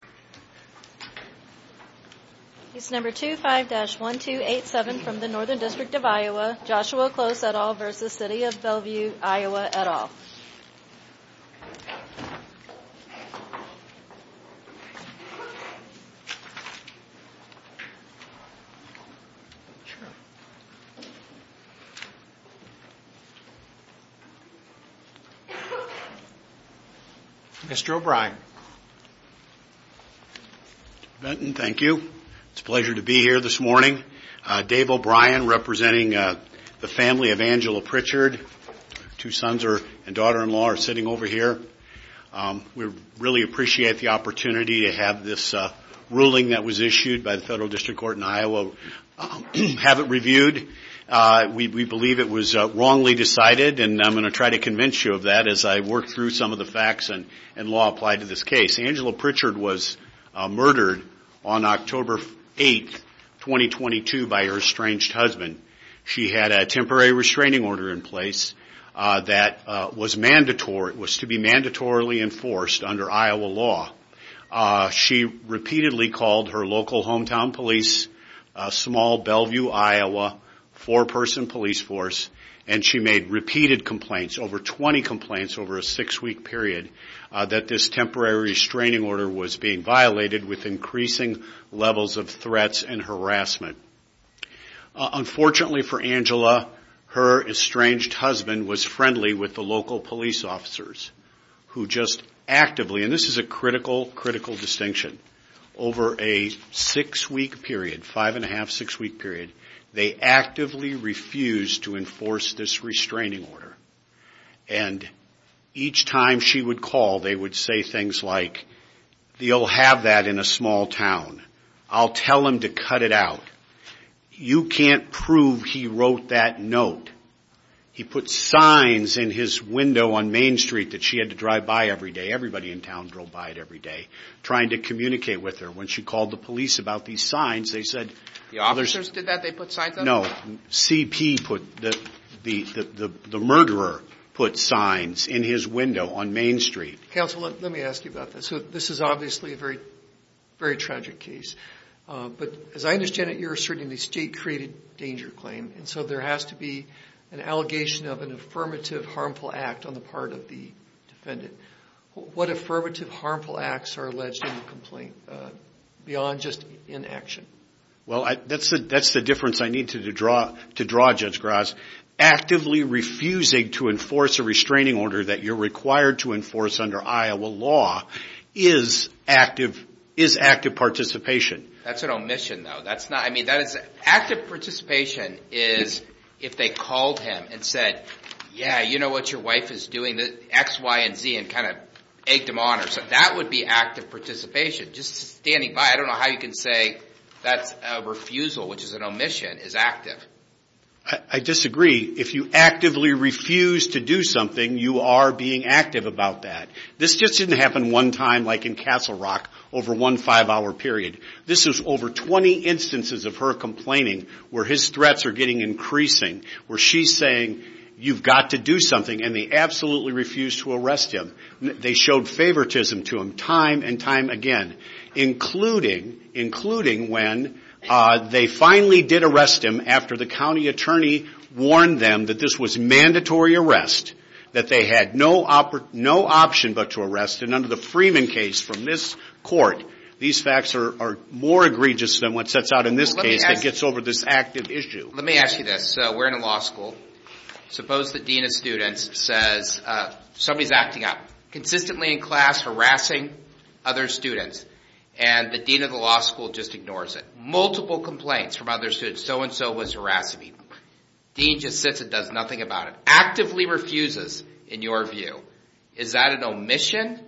after the meeting is over. Number 25-1287 from the Northern District of Iowa, Joshua Close et al. v. City of Bellevue Iowa et al. Dave O'Brien representing the family of Angela Pritchard, two sons and daughter-in-law are here. We really appreciate the opportunity to have this ruling that was issued by the Federal District Court in Iowa have it reviewed. We believe it was wrongly decided and I'm going to try to convince you of that as I work through some of the facts and law applied to this case. Angela Pritchard was murdered on October 8, 2022 by her estranged husband. She had a temporary restraining order in place that was to be mandatorily enforced under Iowa law. She repeatedly called her local hometown police, small Bellevue, Iowa, four-person police force and she made repeated complaints, over 20 complaints over a six-week period that this temporary restraining order was being violated with increasing levels of threats and harassment. Unfortunately for Angela, her estranged husband was friendly with the local police officers who just actively, and this is a critical distinction, over a six-week period, five and a half, six-week period, they actively refused to enforce this restraining order. Each time she would call, they would say things like, you'll have that in a small town, I'll tell them to cut it out. You can't prove he wrote that note. He put signs in his window on Main Street that she had to drive by every day, everybody in town drove by it every day, trying to communicate with her. When she called the police about these signs, they said- The officers did that? They put signs up? No, CP put, the murderer put signs in his window on Main Street. Counsel, let me ask you about this. This is obviously a very tragic case, but as I understand it, you're asserting the state-created danger claim, and so there has to be an allegation of an affirmative harmful act on the part of the defendant. What affirmative harmful acts are alleged in the complaint, beyond just inaction? That's the difference I need to draw, Judge Gras. Actively refusing to enforce a restraining order that you're required to enforce under Iowa law is active participation. That's an omission, though. Active participation is if they called him and said, yeah, you know what your wife is doing, X, Y, and Z, and egged him on. That would be active participation, just standing by. I don't know how you can say that's a refusal, which is an omission, is active. I disagree. If you actively refuse to do something, you are being active about that. This just didn't happen one time, like in Castle Rock, over one five-hour period. This is over 20 instances of her complaining, where his threats are getting increasing, where she's saying, you've got to do something, and they absolutely refuse to arrest him. They showed favoritism to him time and time again, including when they finally did arrest him after the county attorney warned them that this was mandatory arrest, that they had no option but to arrest him. Under the Freeman case from this court, these facts are more egregious than what sets out in this case that gets over this active issue. Let me ask you this. We're in a law school. Suppose the dean of students says somebody's acting up, consistently in class harassing other students, and the dean of the law school just ignores it. Multiple complaints from other students, so-and-so was harassing people. Dean just sits and does nothing about it. Actively refuses, in your view, is that an omission,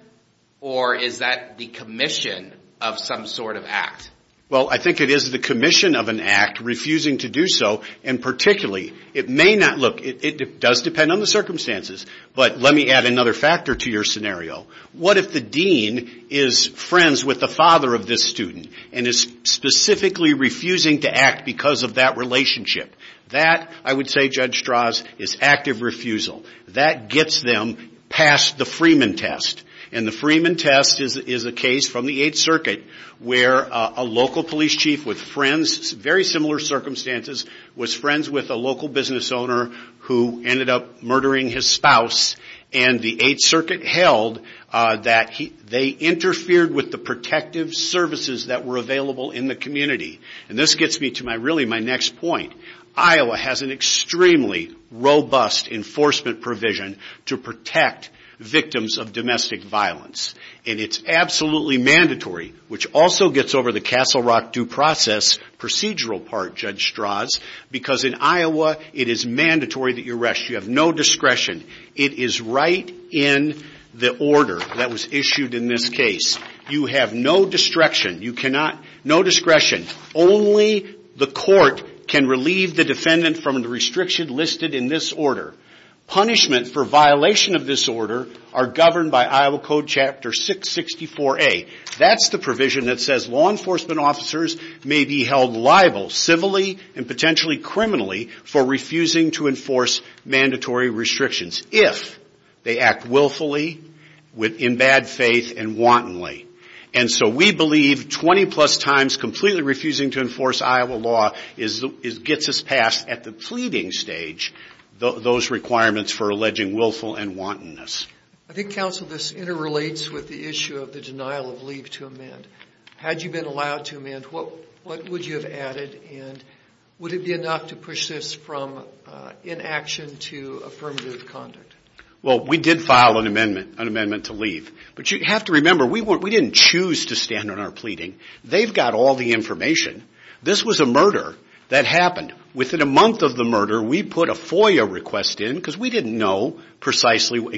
or is that the commission of some sort of act? Well, I think it is the commission of an act, refusing to do so, and particularly, it may not look, it does depend on the circumstances, but let me add another factor to your scenario. What if the dean is friends with the father of this student, and is specifically refusing to act because of that relationship? That I would say, Judge Strauss, is active refusal. That gets them past the Freeman test, and the Freeman test is a case from the Eighth Circuit where a local police chief with friends, very similar circumstances, was friends with a local business owner who ended up murdering his spouse, and the Eighth Circuit held that they interfered with the protective services that were available in the community. This gets me to really my next point. Iowa has an extremely robust enforcement provision to protect victims of domestic violence, and it's absolutely mandatory, which also gets over the Castle Rock due process procedural part, Judge Strauss, because in Iowa, it is mandatory that you arrest. You have no discretion. It is right in the order that was issued in this case. You have no discretion. You cannot, no discretion. Only the court can relieve the defendant from the restriction listed in this order. Punishment for violation of this order are governed by Iowa Code Chapter 664A. That's the provision that says law enforcement officers may be held liable civilly and potentially criminally for refusing to enforce mandatory restrictions if they act willfully, in bad faith, and wantonly, and so we believe 20 plus times completely refusing to enforce Iowa law gets us past, at the pleading stage, those requirements for alleging willful and wantonness. I think, Counsel, this interrelates with the issue of the denial of leave to amend. Had you been allowed to amend, what would you have added, and would it be enough to push this from inaction to affirmative conduct? Well, we did file an amendment, an amendment to leave, but you have to remember, we didn't choose to stand on our pleading. They've got all the information. This was a murder that happened. Within a month of the murder, we put a FOIA request in, because we didn't know precisely what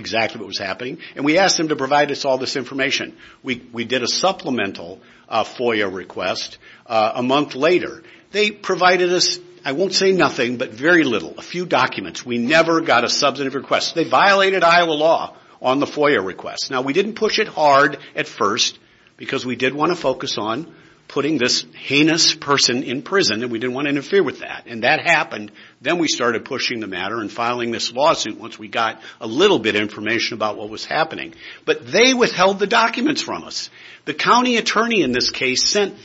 was happening, and we asked them to provide us all this information. We did a supplemental FOIA request a month later. They provided us, I won't say nothing, but very little, a few documents. We never got a substantive request. They violated Iowa law on the FOIA request. Now, we didn't push it hard at first, because we did want to focus on putting this heinous person in prison, and we didn't want to interfere with that, and that happened. Then we started pushing the matter and filing this lawsuit once we got a little bit of information about what was happening, but they withheld the documents from us. The county attorney in this case sent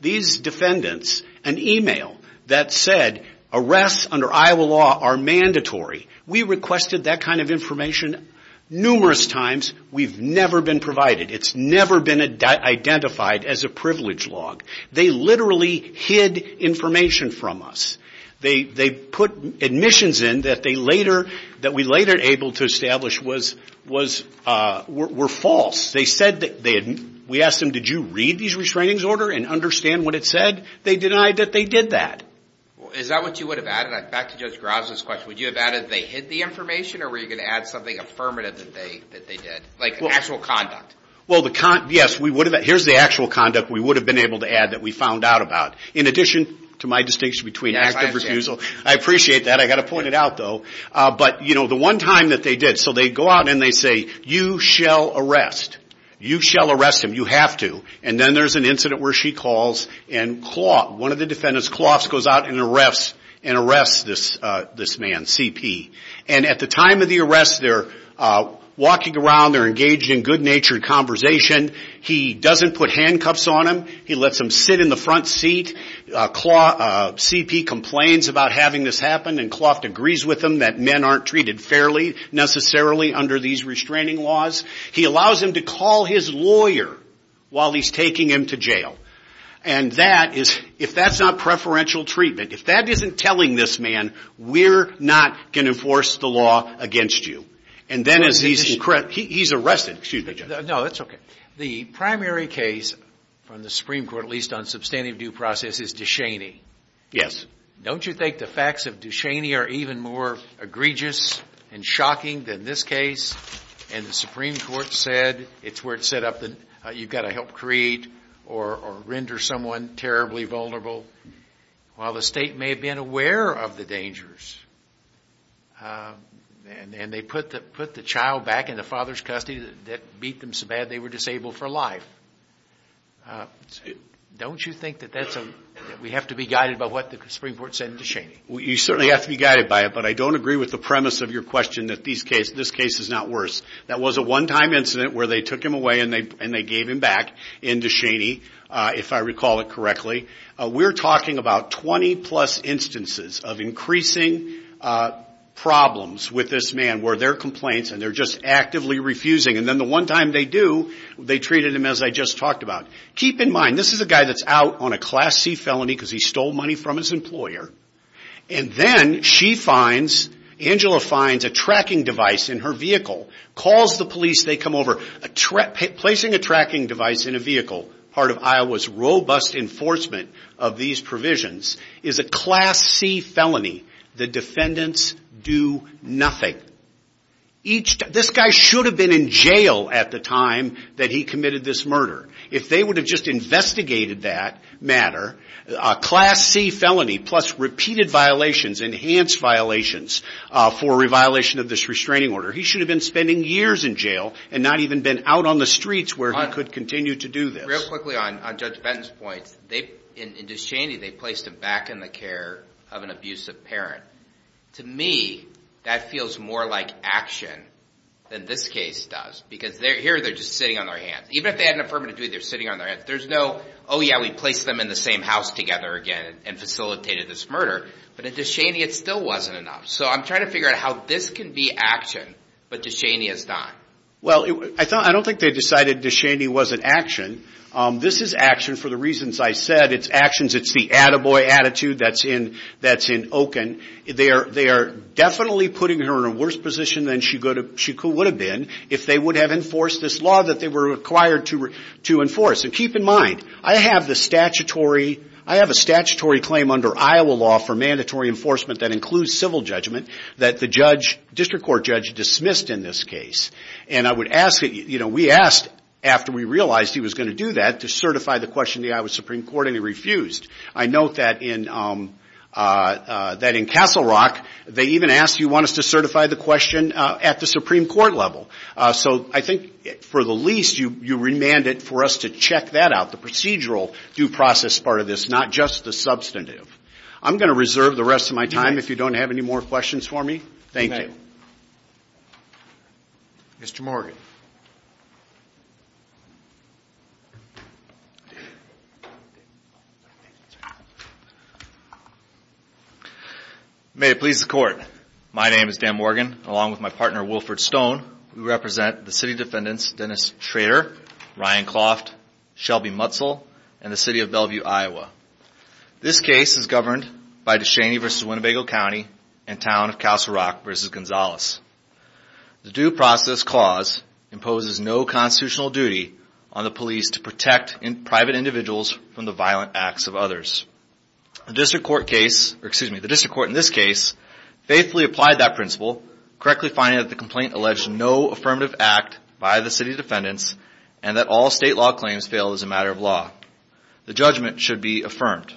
these defendants an email that said, arrests under Iowa law are mandatory. We requested that kind of information numerous times. We've never been provided. It's never been identified as a privilege log. They literally hid information from us. They put admissions in that we later were able to establish were false. We asked them, did you read these restraining order and understand what it said? They denied that they did that. Is that what you would have added? Back to Judge Graza's question. Would you have added they hid the information, or were you going to add something affirmative that they did, like actual conduct? Yes, here's the actual conduct we would have been able to add that we found out about. In addition to my distinction between act of refusal, I appreciate that, I got to point it out though, but the one time that they did. They go out and they say, you shall arrest. You shall arrest him. You have to. Then there's an incident where she calls and Kloff, one of the defendants, Kloff goes out and arrests this man, CP. At the time of the arrest, they're walking around, they're engaged in good natured conversation. He doesn't put handcuffs on him. He lets him sit in the front seat. CP complains about having this happen and Kloff agrees with him that men aren't treated fairly necessarily under these restraining laws. He allows him to call his lawyer while he's taking him to jail. If that's not preferential treatment, if that isn't telling this man, we're not going to enforce the law against you. He's arrested. Excuse me, Judge. No, that's okay. The primary case from the Supreme Court, at least on substantive due process, is Ducheney. Don't you think the facts of Ducheney are even more egregious and shocking than this case and the Supreme Court said it's where it's set up that you've got to help create or render someone terribly vulnerable while the state may have been aware of the dangers. And they put the child back in the father's custody that beat them so bad they were disabled for life. Don't you think that we have to be guided by what the Supreme Court said in Ducheney? You certainly have to be guided by it, but I don't agree with the premise of your question that this case is not worse. That was a one-time incident where they took him away and they gave him back in Ducheney, if I recall it correctly. We're talking about 20 plus instances of increasing problems with this man where there are complaints and they're just actively refusing and then the one time they do, they treated him as I just talked about. Keep in mind, this is a guy that's out on a Class C felony because he stole money from his employer and then she finds, Angela finds, a tracking device in her vehicle, calls the police, they come over, placing a tracking device in a vehicle, part of Iowa's robust enforcement of these provisions is a Class C felony. The defendants do nothing. This guy should have been in jail at the time that he committed this murder. If they would have just investigated that matter, a Class C felony plus repeated violations, enhanced violations for a re-violation of this restraining order, he should have been spending years in jail and not even been out on the streets where he could continue to do this. Just real quickly on Judge Benton's points, in Descheny, they placed him back in the care of an abusive parent. To me, that feels more like action than this case does because here they're just sitting on their hands. Even if they had an affirmative duty, they're sitting on their hands. There's no, oh yeah, we placed them in the same house together again and facilitated this murder. But at Descheny, it still wasn't enough. So I'm trying to figure out how this can be action, but Descheny is not. Well, I don't think they decided Descheny wasn't action. This is action for the reasons I said. It's actions. It's the attaboy attitude that's in Okun. They are definitely putting her in a worse position than she would have been if they would have enforced this law that they were required to enforce. Keep in mind, I have a statutory claim under Iowa law for mandatory enforcement that includes civil judgment that the district court judge dismissed in this case. We asked after we realized he was going to do that to certify the question to the Iowa Supreme Court and he refused. I note that in Castle Rock, they even asked, do you want us to certify the question at the Supreme Court level? So I think for the least, you remanded for us to check that out, the procedural due process part of this, not just the substantive. I'm going to reserve the rest of my time. If you don't have any more questions for me, thank you, Mr. Morgan. May it please the court. My name is Dan Morgan, along with my partner, Wilford Stone, we represent the city defendants, Dennis Schrader, Ryan Kloft, Shelby Mutzel, and the city of Bellevue, Iowa. This case is governed by Ducheney v. Winnebago County and town of Castle Rock v. Gonzalez. The due process clause imposes no constitutional duty on the police to protect private individuals from the violent acts of others. The district court in this case faithfully applied that principle, correctly finding that the complaint alleged no affirmative act by the city defendants and that all state law claims fail as a matter of law. The judgment should be affirmed.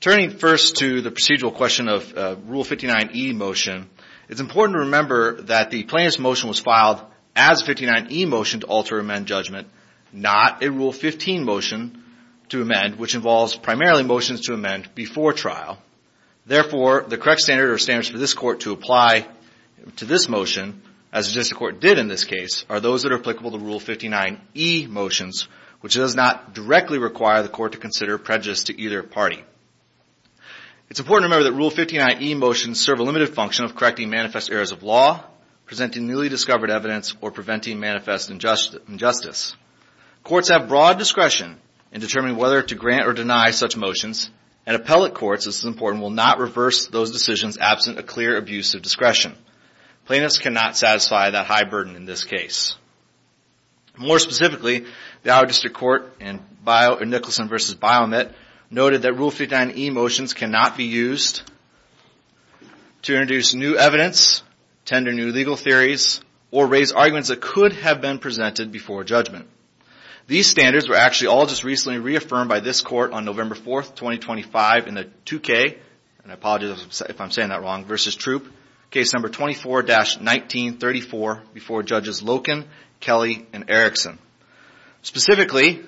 Turning first to the procedural question of Rule 59e motion, it's important to remember that the plaintiff's motion was filed as a 59e motion to alter or amend judgment, not a Rule 15 motion to amend, which involves primarily motions to amend before trial. Therefore, the correct standard or standards for this court to apply to this motion, as the district court did in this case, are those that are applicable to Rule 59e motions, which does not directly require the court to consider prejudice to either party. It's important to remember that Rule 59e motions serve a limited function of correcting manifest errors of law, presenting newly discovered evidence, or preventing manifest injustice. Courts have broad discretion in determining whether to grant or deny such motions, and appellate courts, this is important, will not reverse those decisions absent a clear abuse of discretion. Plaintiffs cannot satisfy that high burden in this case. More specifically, the Iowa District Court in Nicholson v. Biomet noted that Rule 59e motions cannot be used to introduce new evidence, tender new legal theories, or raise arguments that could have been presented before judgment. These standards were actually all just recently reaffirmed by this court on November 4th, 2025 in the 2K, and I apologize if I'm saying that wrong, v. Troop, case number 24-1934 before Judges Loken, Kelley, and Erickson. Specifically,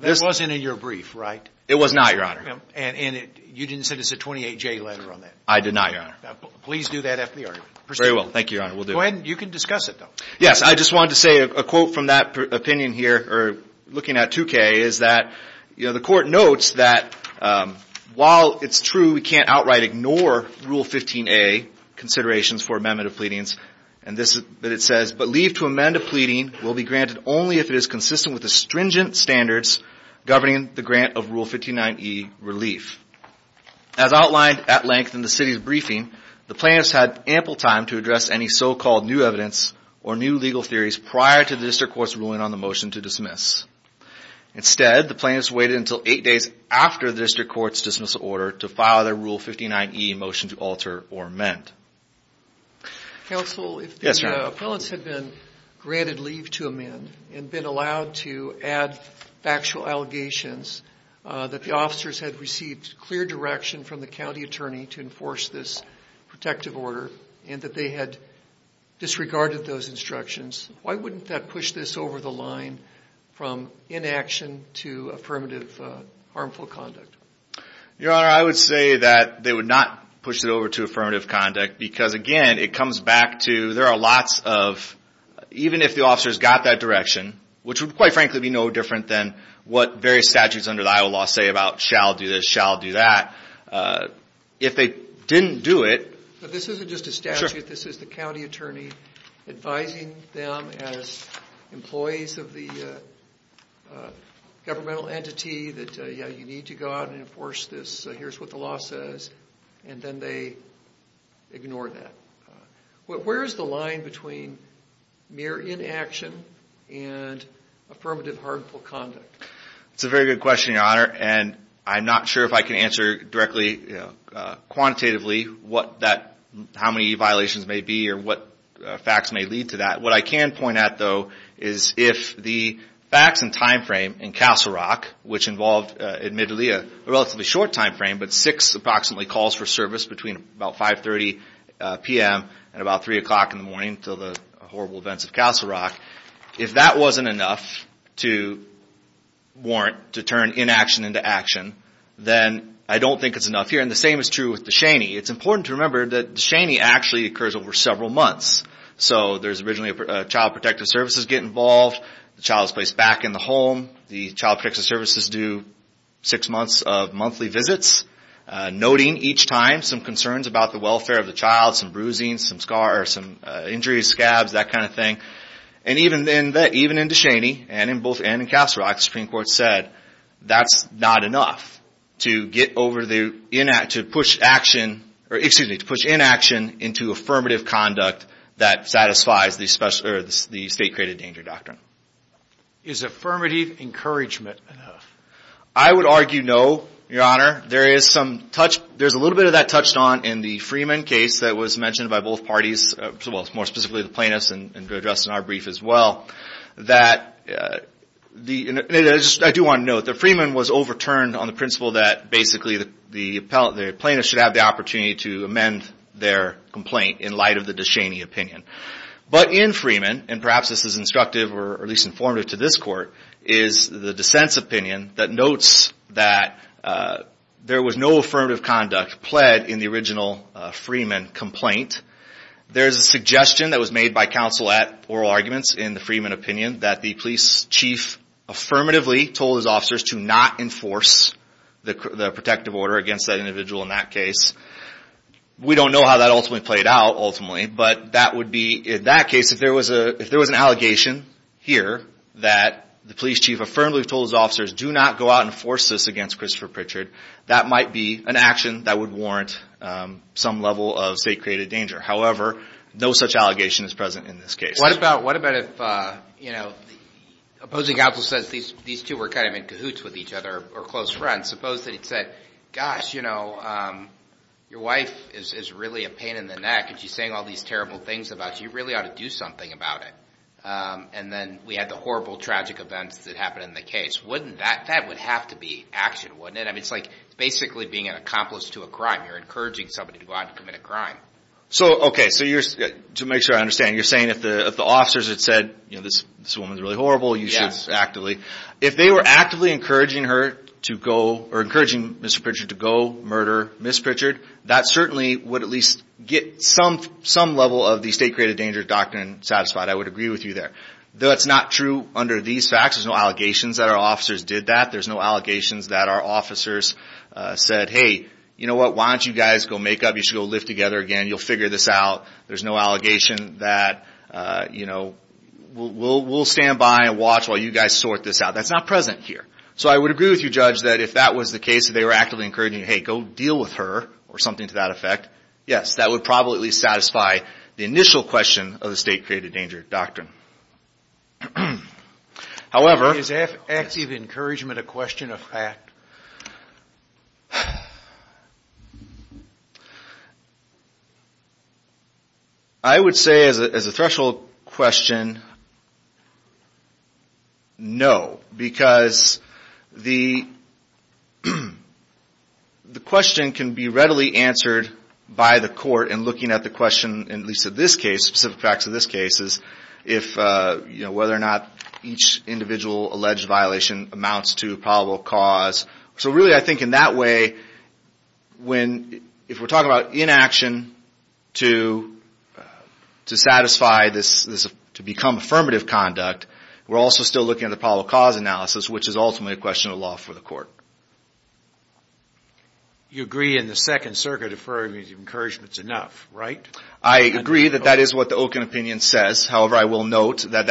this- That wasn't in your brief, right? It was not, Your Honor. And you didn't send us a 28-J letter on that? I did not, Your Honor. Please do that after the argument. Very well. Thank you, Your Honor. We'll do it. Go ahead. You can discuss it, though. Yes. I just wanted to say a quote from that opinion here, or looking at 2K, is that the court notes that while it's true we can't outright ignore Rule 15a considerations for amendment of pleadings, but leave to amend a pleading will be granted only if it is consistent with the stringent standards governing the grant of Rule 59e relief. As outlined at length in the City's briefing, the plaintiffs had ample time to address any so-called new evidence or new legal theories prior to the District Court's ruling on the motion to dismiss. Instead, the plaintiffs waited until eight days after the District Court's dismissal order to file their Rule 59e motion to alter or amend. Yes, Your Honor. If the appellants had been granted leave to amend and been allowed to add factual allegations that the officers had received clear direction from the county attorney to enforce this protective order and that they had disregarded those instructions, why wouldn't that push this over the line from inaction to affirmative harmful conduct? Your Honor, I would say that they would not push it over to affirmative conduct because again it comes back to there are lots of, even if the officers got that direction, which would quite frankly be no different than what various statutes under the Iowa law say about shall do this, shall do that. If they didn't do it... This isn't just a statute. This is the county attorney advising them as employees of the governmental entity that you need to go out and enforce this, here's what the law says, and then they ignore that. Where is the line between mere inaction and affirmative harmful conduct? It's a very good question, Your Honor, and I'm not sure if I can answer directly, quantitatively, how many violations may be or what facts may lead to that. What I can point out, though, is if the facts and time frame in Castle Rock, which involved admittedly a relatively short time frame, but six approximately calls for service between about 5.30 p.m. and about 3 o'clock in the morning until the horrible events of Castle Rock, if that wasn't enough to warrant to turn inaction into action, then I don't think it's enough here. The same is true with DeShaney. It's important to remember that DeShaney actually occurs over several months, so there's originally a child protective services get involved, the child is placed back in the home, the child protective services do six months of monthly visits, noting each time some concerns about the welfare of the child, some bruising, some scars, some injuries, scabs, that kind of thing, and even in DeShaney and in both in Castle Rock, the Supreme Court said that's not enough to push inaction into affirmative conduct that satisfies the state-created danger doctrine. Is affirmative encouragement enough? I would argue no, Your Honor. There's a little bit of that touched on in the Freeman case that was mentioned by both parties, more specifically the plaintiffs, and addressed in our brief as well. I do want to note that Freeman was overturned on the principle that basically the plaintiffs should have the opportunity to amend their complaint in light of the DeShaney opinion. But in Freeman, and perhaps this is instructive or at least informative to this court, is the dissent's opinion that notes that there was no affirmative conduct pled in the original Freeman complaint. There's a suggestion that was made by counsel at oral arguments in the Freeman opinion that the police chief affirmatively told his officers to not enforce the protective order against that individual in that case. We don't know how that ultimately played out, ultimately, but that would be in that case if there was an allegation here that the police chief affirmatively told his officers do not go out and force this against Christopher Pritchard, that might be an action that would warrant some level of state-created danger. However, no such allegation is present in this case. What about if the opposing counsel says these two were kind of in cahoots with each other or close friends? Suppose that he'd said, gosh, your wife is really a pain in the neck and she's saying all these terrible things about you, you really ought to do something about it. And then we had the horrible, tragic events that happened in the case. That would have to be action, wouldn't it? It's like basically being an accomplice to a crime. You're encouraging somebody to go out and commit a crime. So okay, to make sure I understand, you're saying if the officers had said, this woman's really horrible, you should actively. If they were actively encouraging her to go, or encouraging Mr. Pritchard to go murder Ms. Pritchard, that certainly would at least get some level of the state-created danger doctrine satisfied. I would agree with you there. That's not true under these facts. There's no allegations that our officers did that. There's no allegations that our officers said, hey, you know what, why don't you guys go make up? You should go live together again. You'll figure this out. There's no allegation that, you know, we'll stand by and watch while you guys sort this out. That's not present here. So I would agree with you, Judge, that if that was the case, if they were actively encouraging you, hey, go deal with her or something to that effect, yes, that would probably at least satisfy the initial question of the state-created danger doctrine. However... Is active encouragement a question of fact? I would say as a threshold question, no. Because the question can be readily answered by the court in looking at the question, at least in this case, whether or not each individual alleged violation amounts to a probable cause. So really I think in that way, if we're talking about inaction to satisfy this, to become affirmative conduct, we're also still looking at the probable cause analysis, which is ultimately a question of law for the court. You agree in the Second Circuit affirmative encouragement is enough, right? I agree that that is what the Okun opinion says. However, I will note that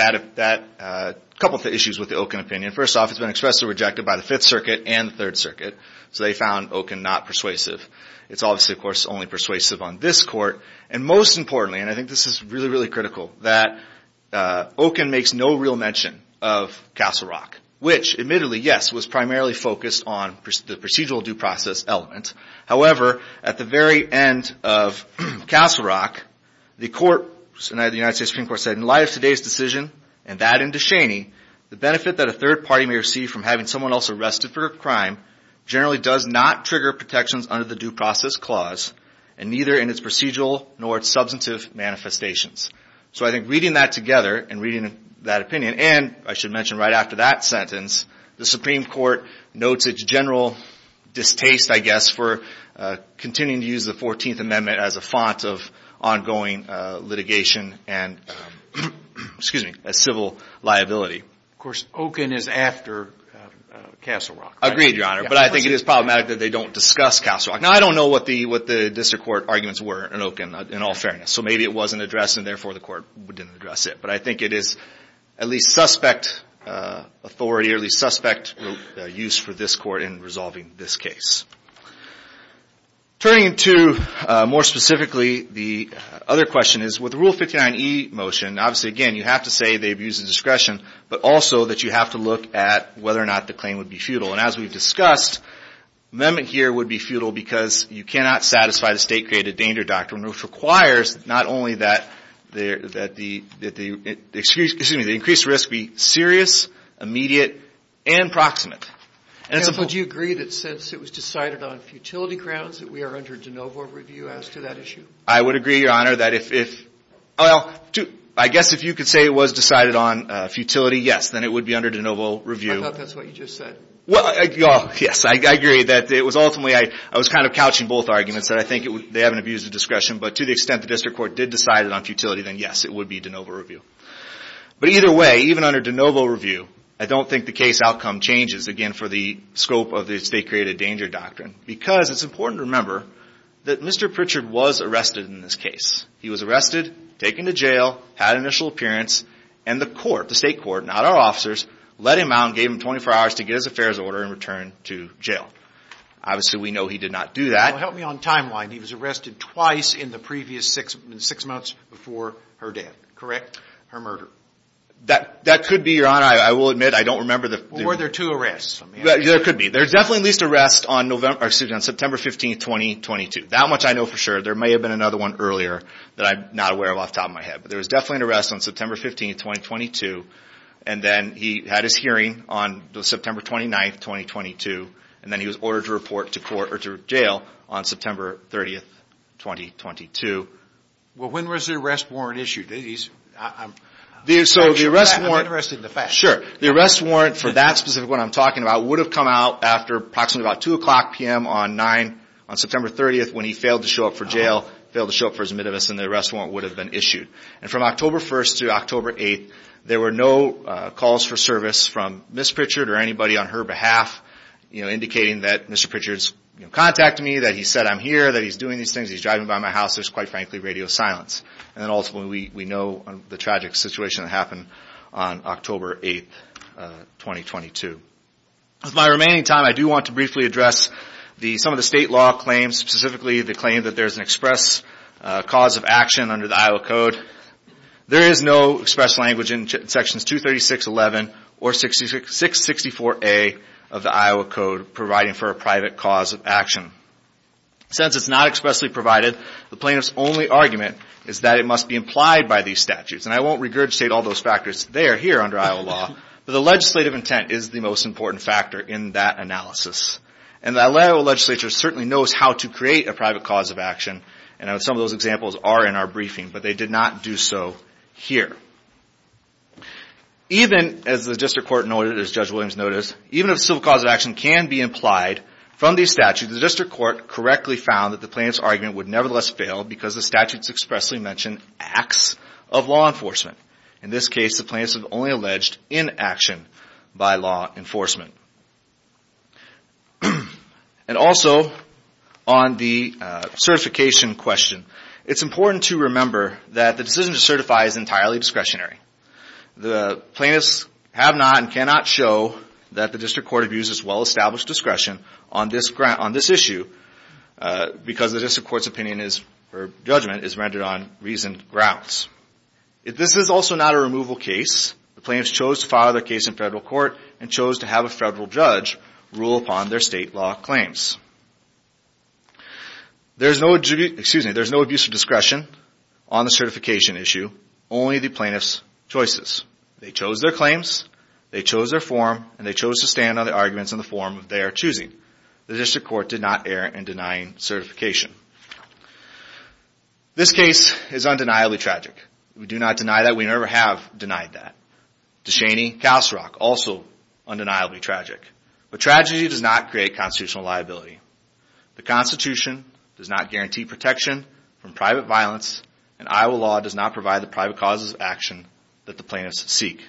a couple of issues with the Okun opinion. First off, it's been expressly rejected by the Fifth Circuit and the Third Circuit. So they found Okun not persuasive. It's obviously, of course, only persuasive on this court. And most importantly, and I think this is really, really critical, that Okun makes no real mention of Castle Rock, which admittedly, yes, was primarily focused on the procedural due process element. However, at the very end of Castle Rock, the United States Supreme Court said, in light of today's decision, and that and DeShaney, the benefit that a third party may receive from having someone else arrested for a crime generally does not trigger protections under the due process clause, and neither in its procedural nor its substantive manifestations. So I think reading that together and reading that opinion, and I should mention right after that sentence, the Supreme Court notes its general distaste, I guess, for continuing to use the 14th Amendment as a font of ongoing litigation and civil liability. Of course, Okun is after Castle Rock. Agreed, Your Honor. But I think it is problematic that they don't discuss Castle Rock. Now, I don't know what the district court arguments were in Okun, in all fairness. So maybe it wasn't addressed, and therefore the court didn't address it. But I think it is at least suspect authority, at least suspect use for this court in resolving this case. Turning to, more specifically, the other question is, with Rule 59e motion, obviously, again, you have to say they abuse the discretion, but also that you have to look at whether or not the claim would be futile. And as we've discussed, amendment here would be futile because you cannot satisfy the state-created danger doctrine, which requires not only that the increased risk be serious, immediate, and proximate. Counsel, do you agree that since it was decided on futility grounds, that we are under de novo review as to that issue? I would agree, Your Honor, that if, well, I guess if you could say it was decided on futility, yes, then it would be under de novo review. I thought that's what you just said. Well, yes, I agree that it was ultimately, I was kind of couching both arguments, that I think they haven't abused the discretion. But to the extent the district court did decide it on futility, then yes, it would be de novo review. But either way, even under de novo review, I don't think the case outcome changes, again, for the scope of the state-created danger doctrine. Because it's important to remember that Mr. Pritchard was arrested in this case. He was arrested, taken to jail, had an initial appearance, and the court, the state court, not our officers, let him out and gave him 24 hours to get his affairs order and return to jail. Obviously, we know he did not do that. Well, help me on timeline. He was arrested twice in the previous six months before her death, correct, her murder? That could be, Your Honor. I will admit, I don't remember the- Were there two arrests? Let me ask you that. There could be. There's definitely at least arrest on September 15, 2022. That much I know for sure. There may have been another one earlier that I'm not aware of off the top of my head. But there was definitely an arrest on September 15, 2022. And then he had his hearing on September 29, 2022. And then he was ordered to report to court or to jail on September 30, 2022. Well, when was the arrest warrant issued? I'm interested in the facts. Sure. The arrest warrant for that specific one I'm talking about would have come out after approximately about 2 o'clock PM on September 30th when he failed to show up for jail, failed to show up for his admittedness, and the arrest warrant would have been issued. And from October 1st to October 8th, there were no calls for service from Ms. Pritchard or anybody on her behalf, indicating that Mr. Pritchard's contacted me, that he said I'm here, that he's doing these things, he's driving by my house, there's quite frankly radio silence. And then ultimately we know the tragic situation that happened on October 8th, 2022. With my remaining time, I do want to briefly address some of the state law claims, specifically the claim that there's an express cause of action under the Iowa Code. There is no express language in Sections 236.11 or 664A of the Iowa Code providing for a private cause of action. Since it's not expressly provided, the plaintiff's only argument is that it must be implied by these statutes. And I won't regurgitate all those factors, they are here under Iowa law, but the legislative intent is the most important factor in that analysis. And the Iowa legislature certainly knows how to create a private cause of action, and some of those examples are in our briefing, but they did not do so here. Even as the District Court noted, as Judge Williams noted, even if civil cause of action can be implied from these statutes, the District Court correctly found that the plaintiff's argument would nevertheless fail because the statutes expressly mention acts of law enforcement. In this case, the plaintiffs have only alleged inaction by law enforcement. And also, on the certification question, it's important to remember that the decision to certify is entirely discretionary. The plaintiffs have not and cannot show that the District Court views as well-established discretion on this issue because the District Court's judgment is rendered on reasoned grounds. This is also not a removal case. The plaintiffs chose to file their case in federal court and chose to have a federal judge rule upon their state law claims. There's no abuse of discretion on the certification issue, only the plaintiff's choices. They chose their claims, they chose their form, and they chose to stand on their arguments in the form they are choosing. The District Court did not err in denying certification. This case is undeniably tragic. We do not deny that. We never have denied that. DeShaney, Calsarock, also undeniably tragic. But tragedy does not create constitutional liability. The Constitution does not guarantee protection from private violence, and Iowa law does not provide the private causes of action that the plaintiffs seek.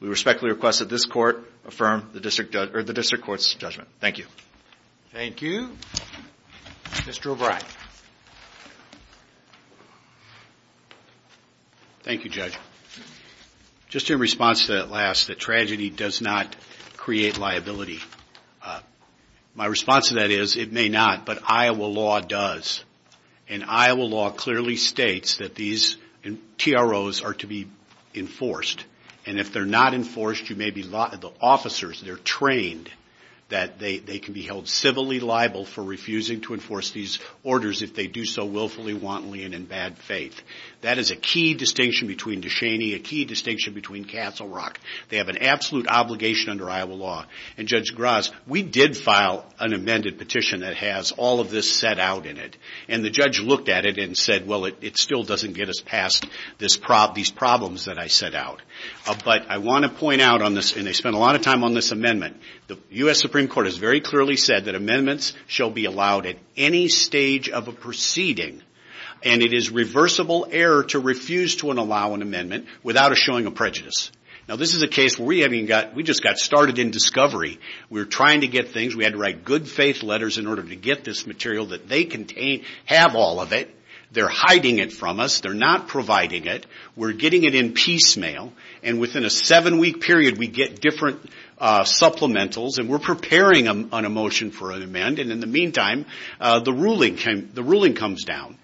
We respectfully request that this Court affirm the District Court's judgment. Thank you. Thank you. Mr. O'Brien. Thank you, Judge. Just in response to that last, that tragedy does not create liability. My response to that is, it may not, but Iowa law does. And Iowa law clearly states that these TROs are to be enforced. And if they're not enforced, you may be, the officers, they're trained that they can be held civilly liable for refusing to enforce these orders if they do so willfully, wantonly and in bad faith. That is a key distinction between DeShaney, a key distinction between Calsarock. They have an absolute obligation under Iowa law. And Judge Graz, we did file an amended petition that has all of this set out in it. And the judge looked at it and said, well, it still doesn't get us past these problems that I set out. But I want to point out on this, and they spent a lot of time on this amendment, the U.S. Supreme Court has very clearly said that amendments shall be allowed at any stage of a proceeding. And it is reversible error to refuse to allow an amendment without showing a prejudice. Now this is a case where we just got started in discovery. We're trying to get things. We had to write good faith letters in order to get this material that they contain, have all of it. They're hiding it from us. They're not providing it. We're getting it in piecemeal. And within a seven-week period, we get different supplementals and we're preparing on a motion for an amend. And in the meantime, the ruling comes down.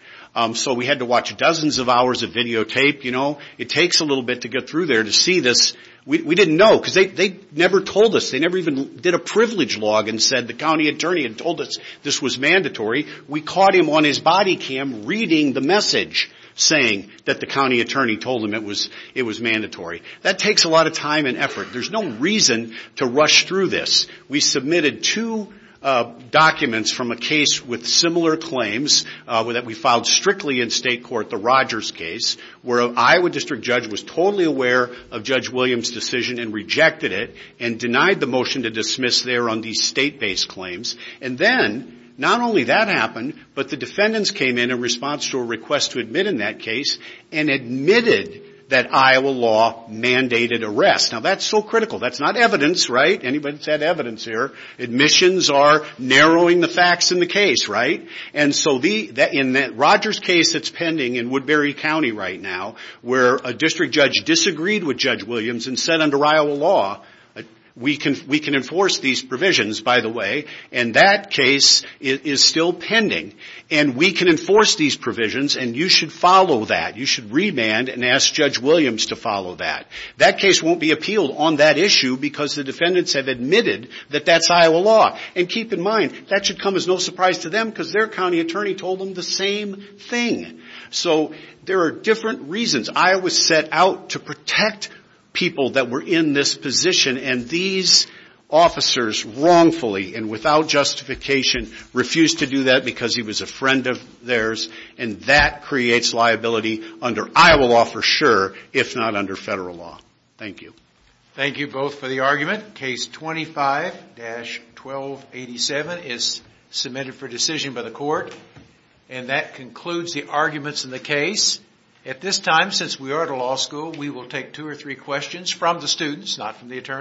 So we had to watch dozens of hours of videotape. It takes a little bit to get through there to see this. We didn't know because they never told us. They never even did a privilege log and said the county attorney had told us this was mandatory. We caught him on his body cam reading the message saying that the county attorney told him it was mandatory. That takes a lot of time and effort. There's no reason to rush through this. We submitted two documents from a case with similar claims that we filed strictly in state court, the Rogers case, where an Iowa district judge was totally aware of Judge Williams' decision and rejected it and denied the motion to dismiss there on these state-based claims. And then not only that happened, but the defendants came in in response to a request to admit in that case and admitted that Iowa law mandated arrest. Now that's so critical. That's not evidence, right? Anybody that's had evidence here, admissions are narrowing the facts in the case, right? And so in that Rogers case that's pending in Woodbury County right now, where a district judge disagreed with Judge Williams and said under Iowa law, we can enforce these provisions, by the way, and that case is still pending and we can enforce these provisions and you should follow that. You should remand and ask Judge Williams to follow that. That case won't be appealed on that issue because the defendants have admitted that that's Iowa law. And keep in mind, that should come as no surprise to them because their county attorney told them the same thing. So there are different reasons. Iowa set out to protect people that were in this position and these officers wrongfully and without justification refused to do that because he was a friend of theirs and that creates liability under Iowa law for sure, if not under federal law. Thank you. Thank you both for the argument. Case 25-1287 is submitted for decision by the court. And that concludes the arguments in the case. At this time, since we are at a law school, we will take two or three questions from the students, not from the attorneys.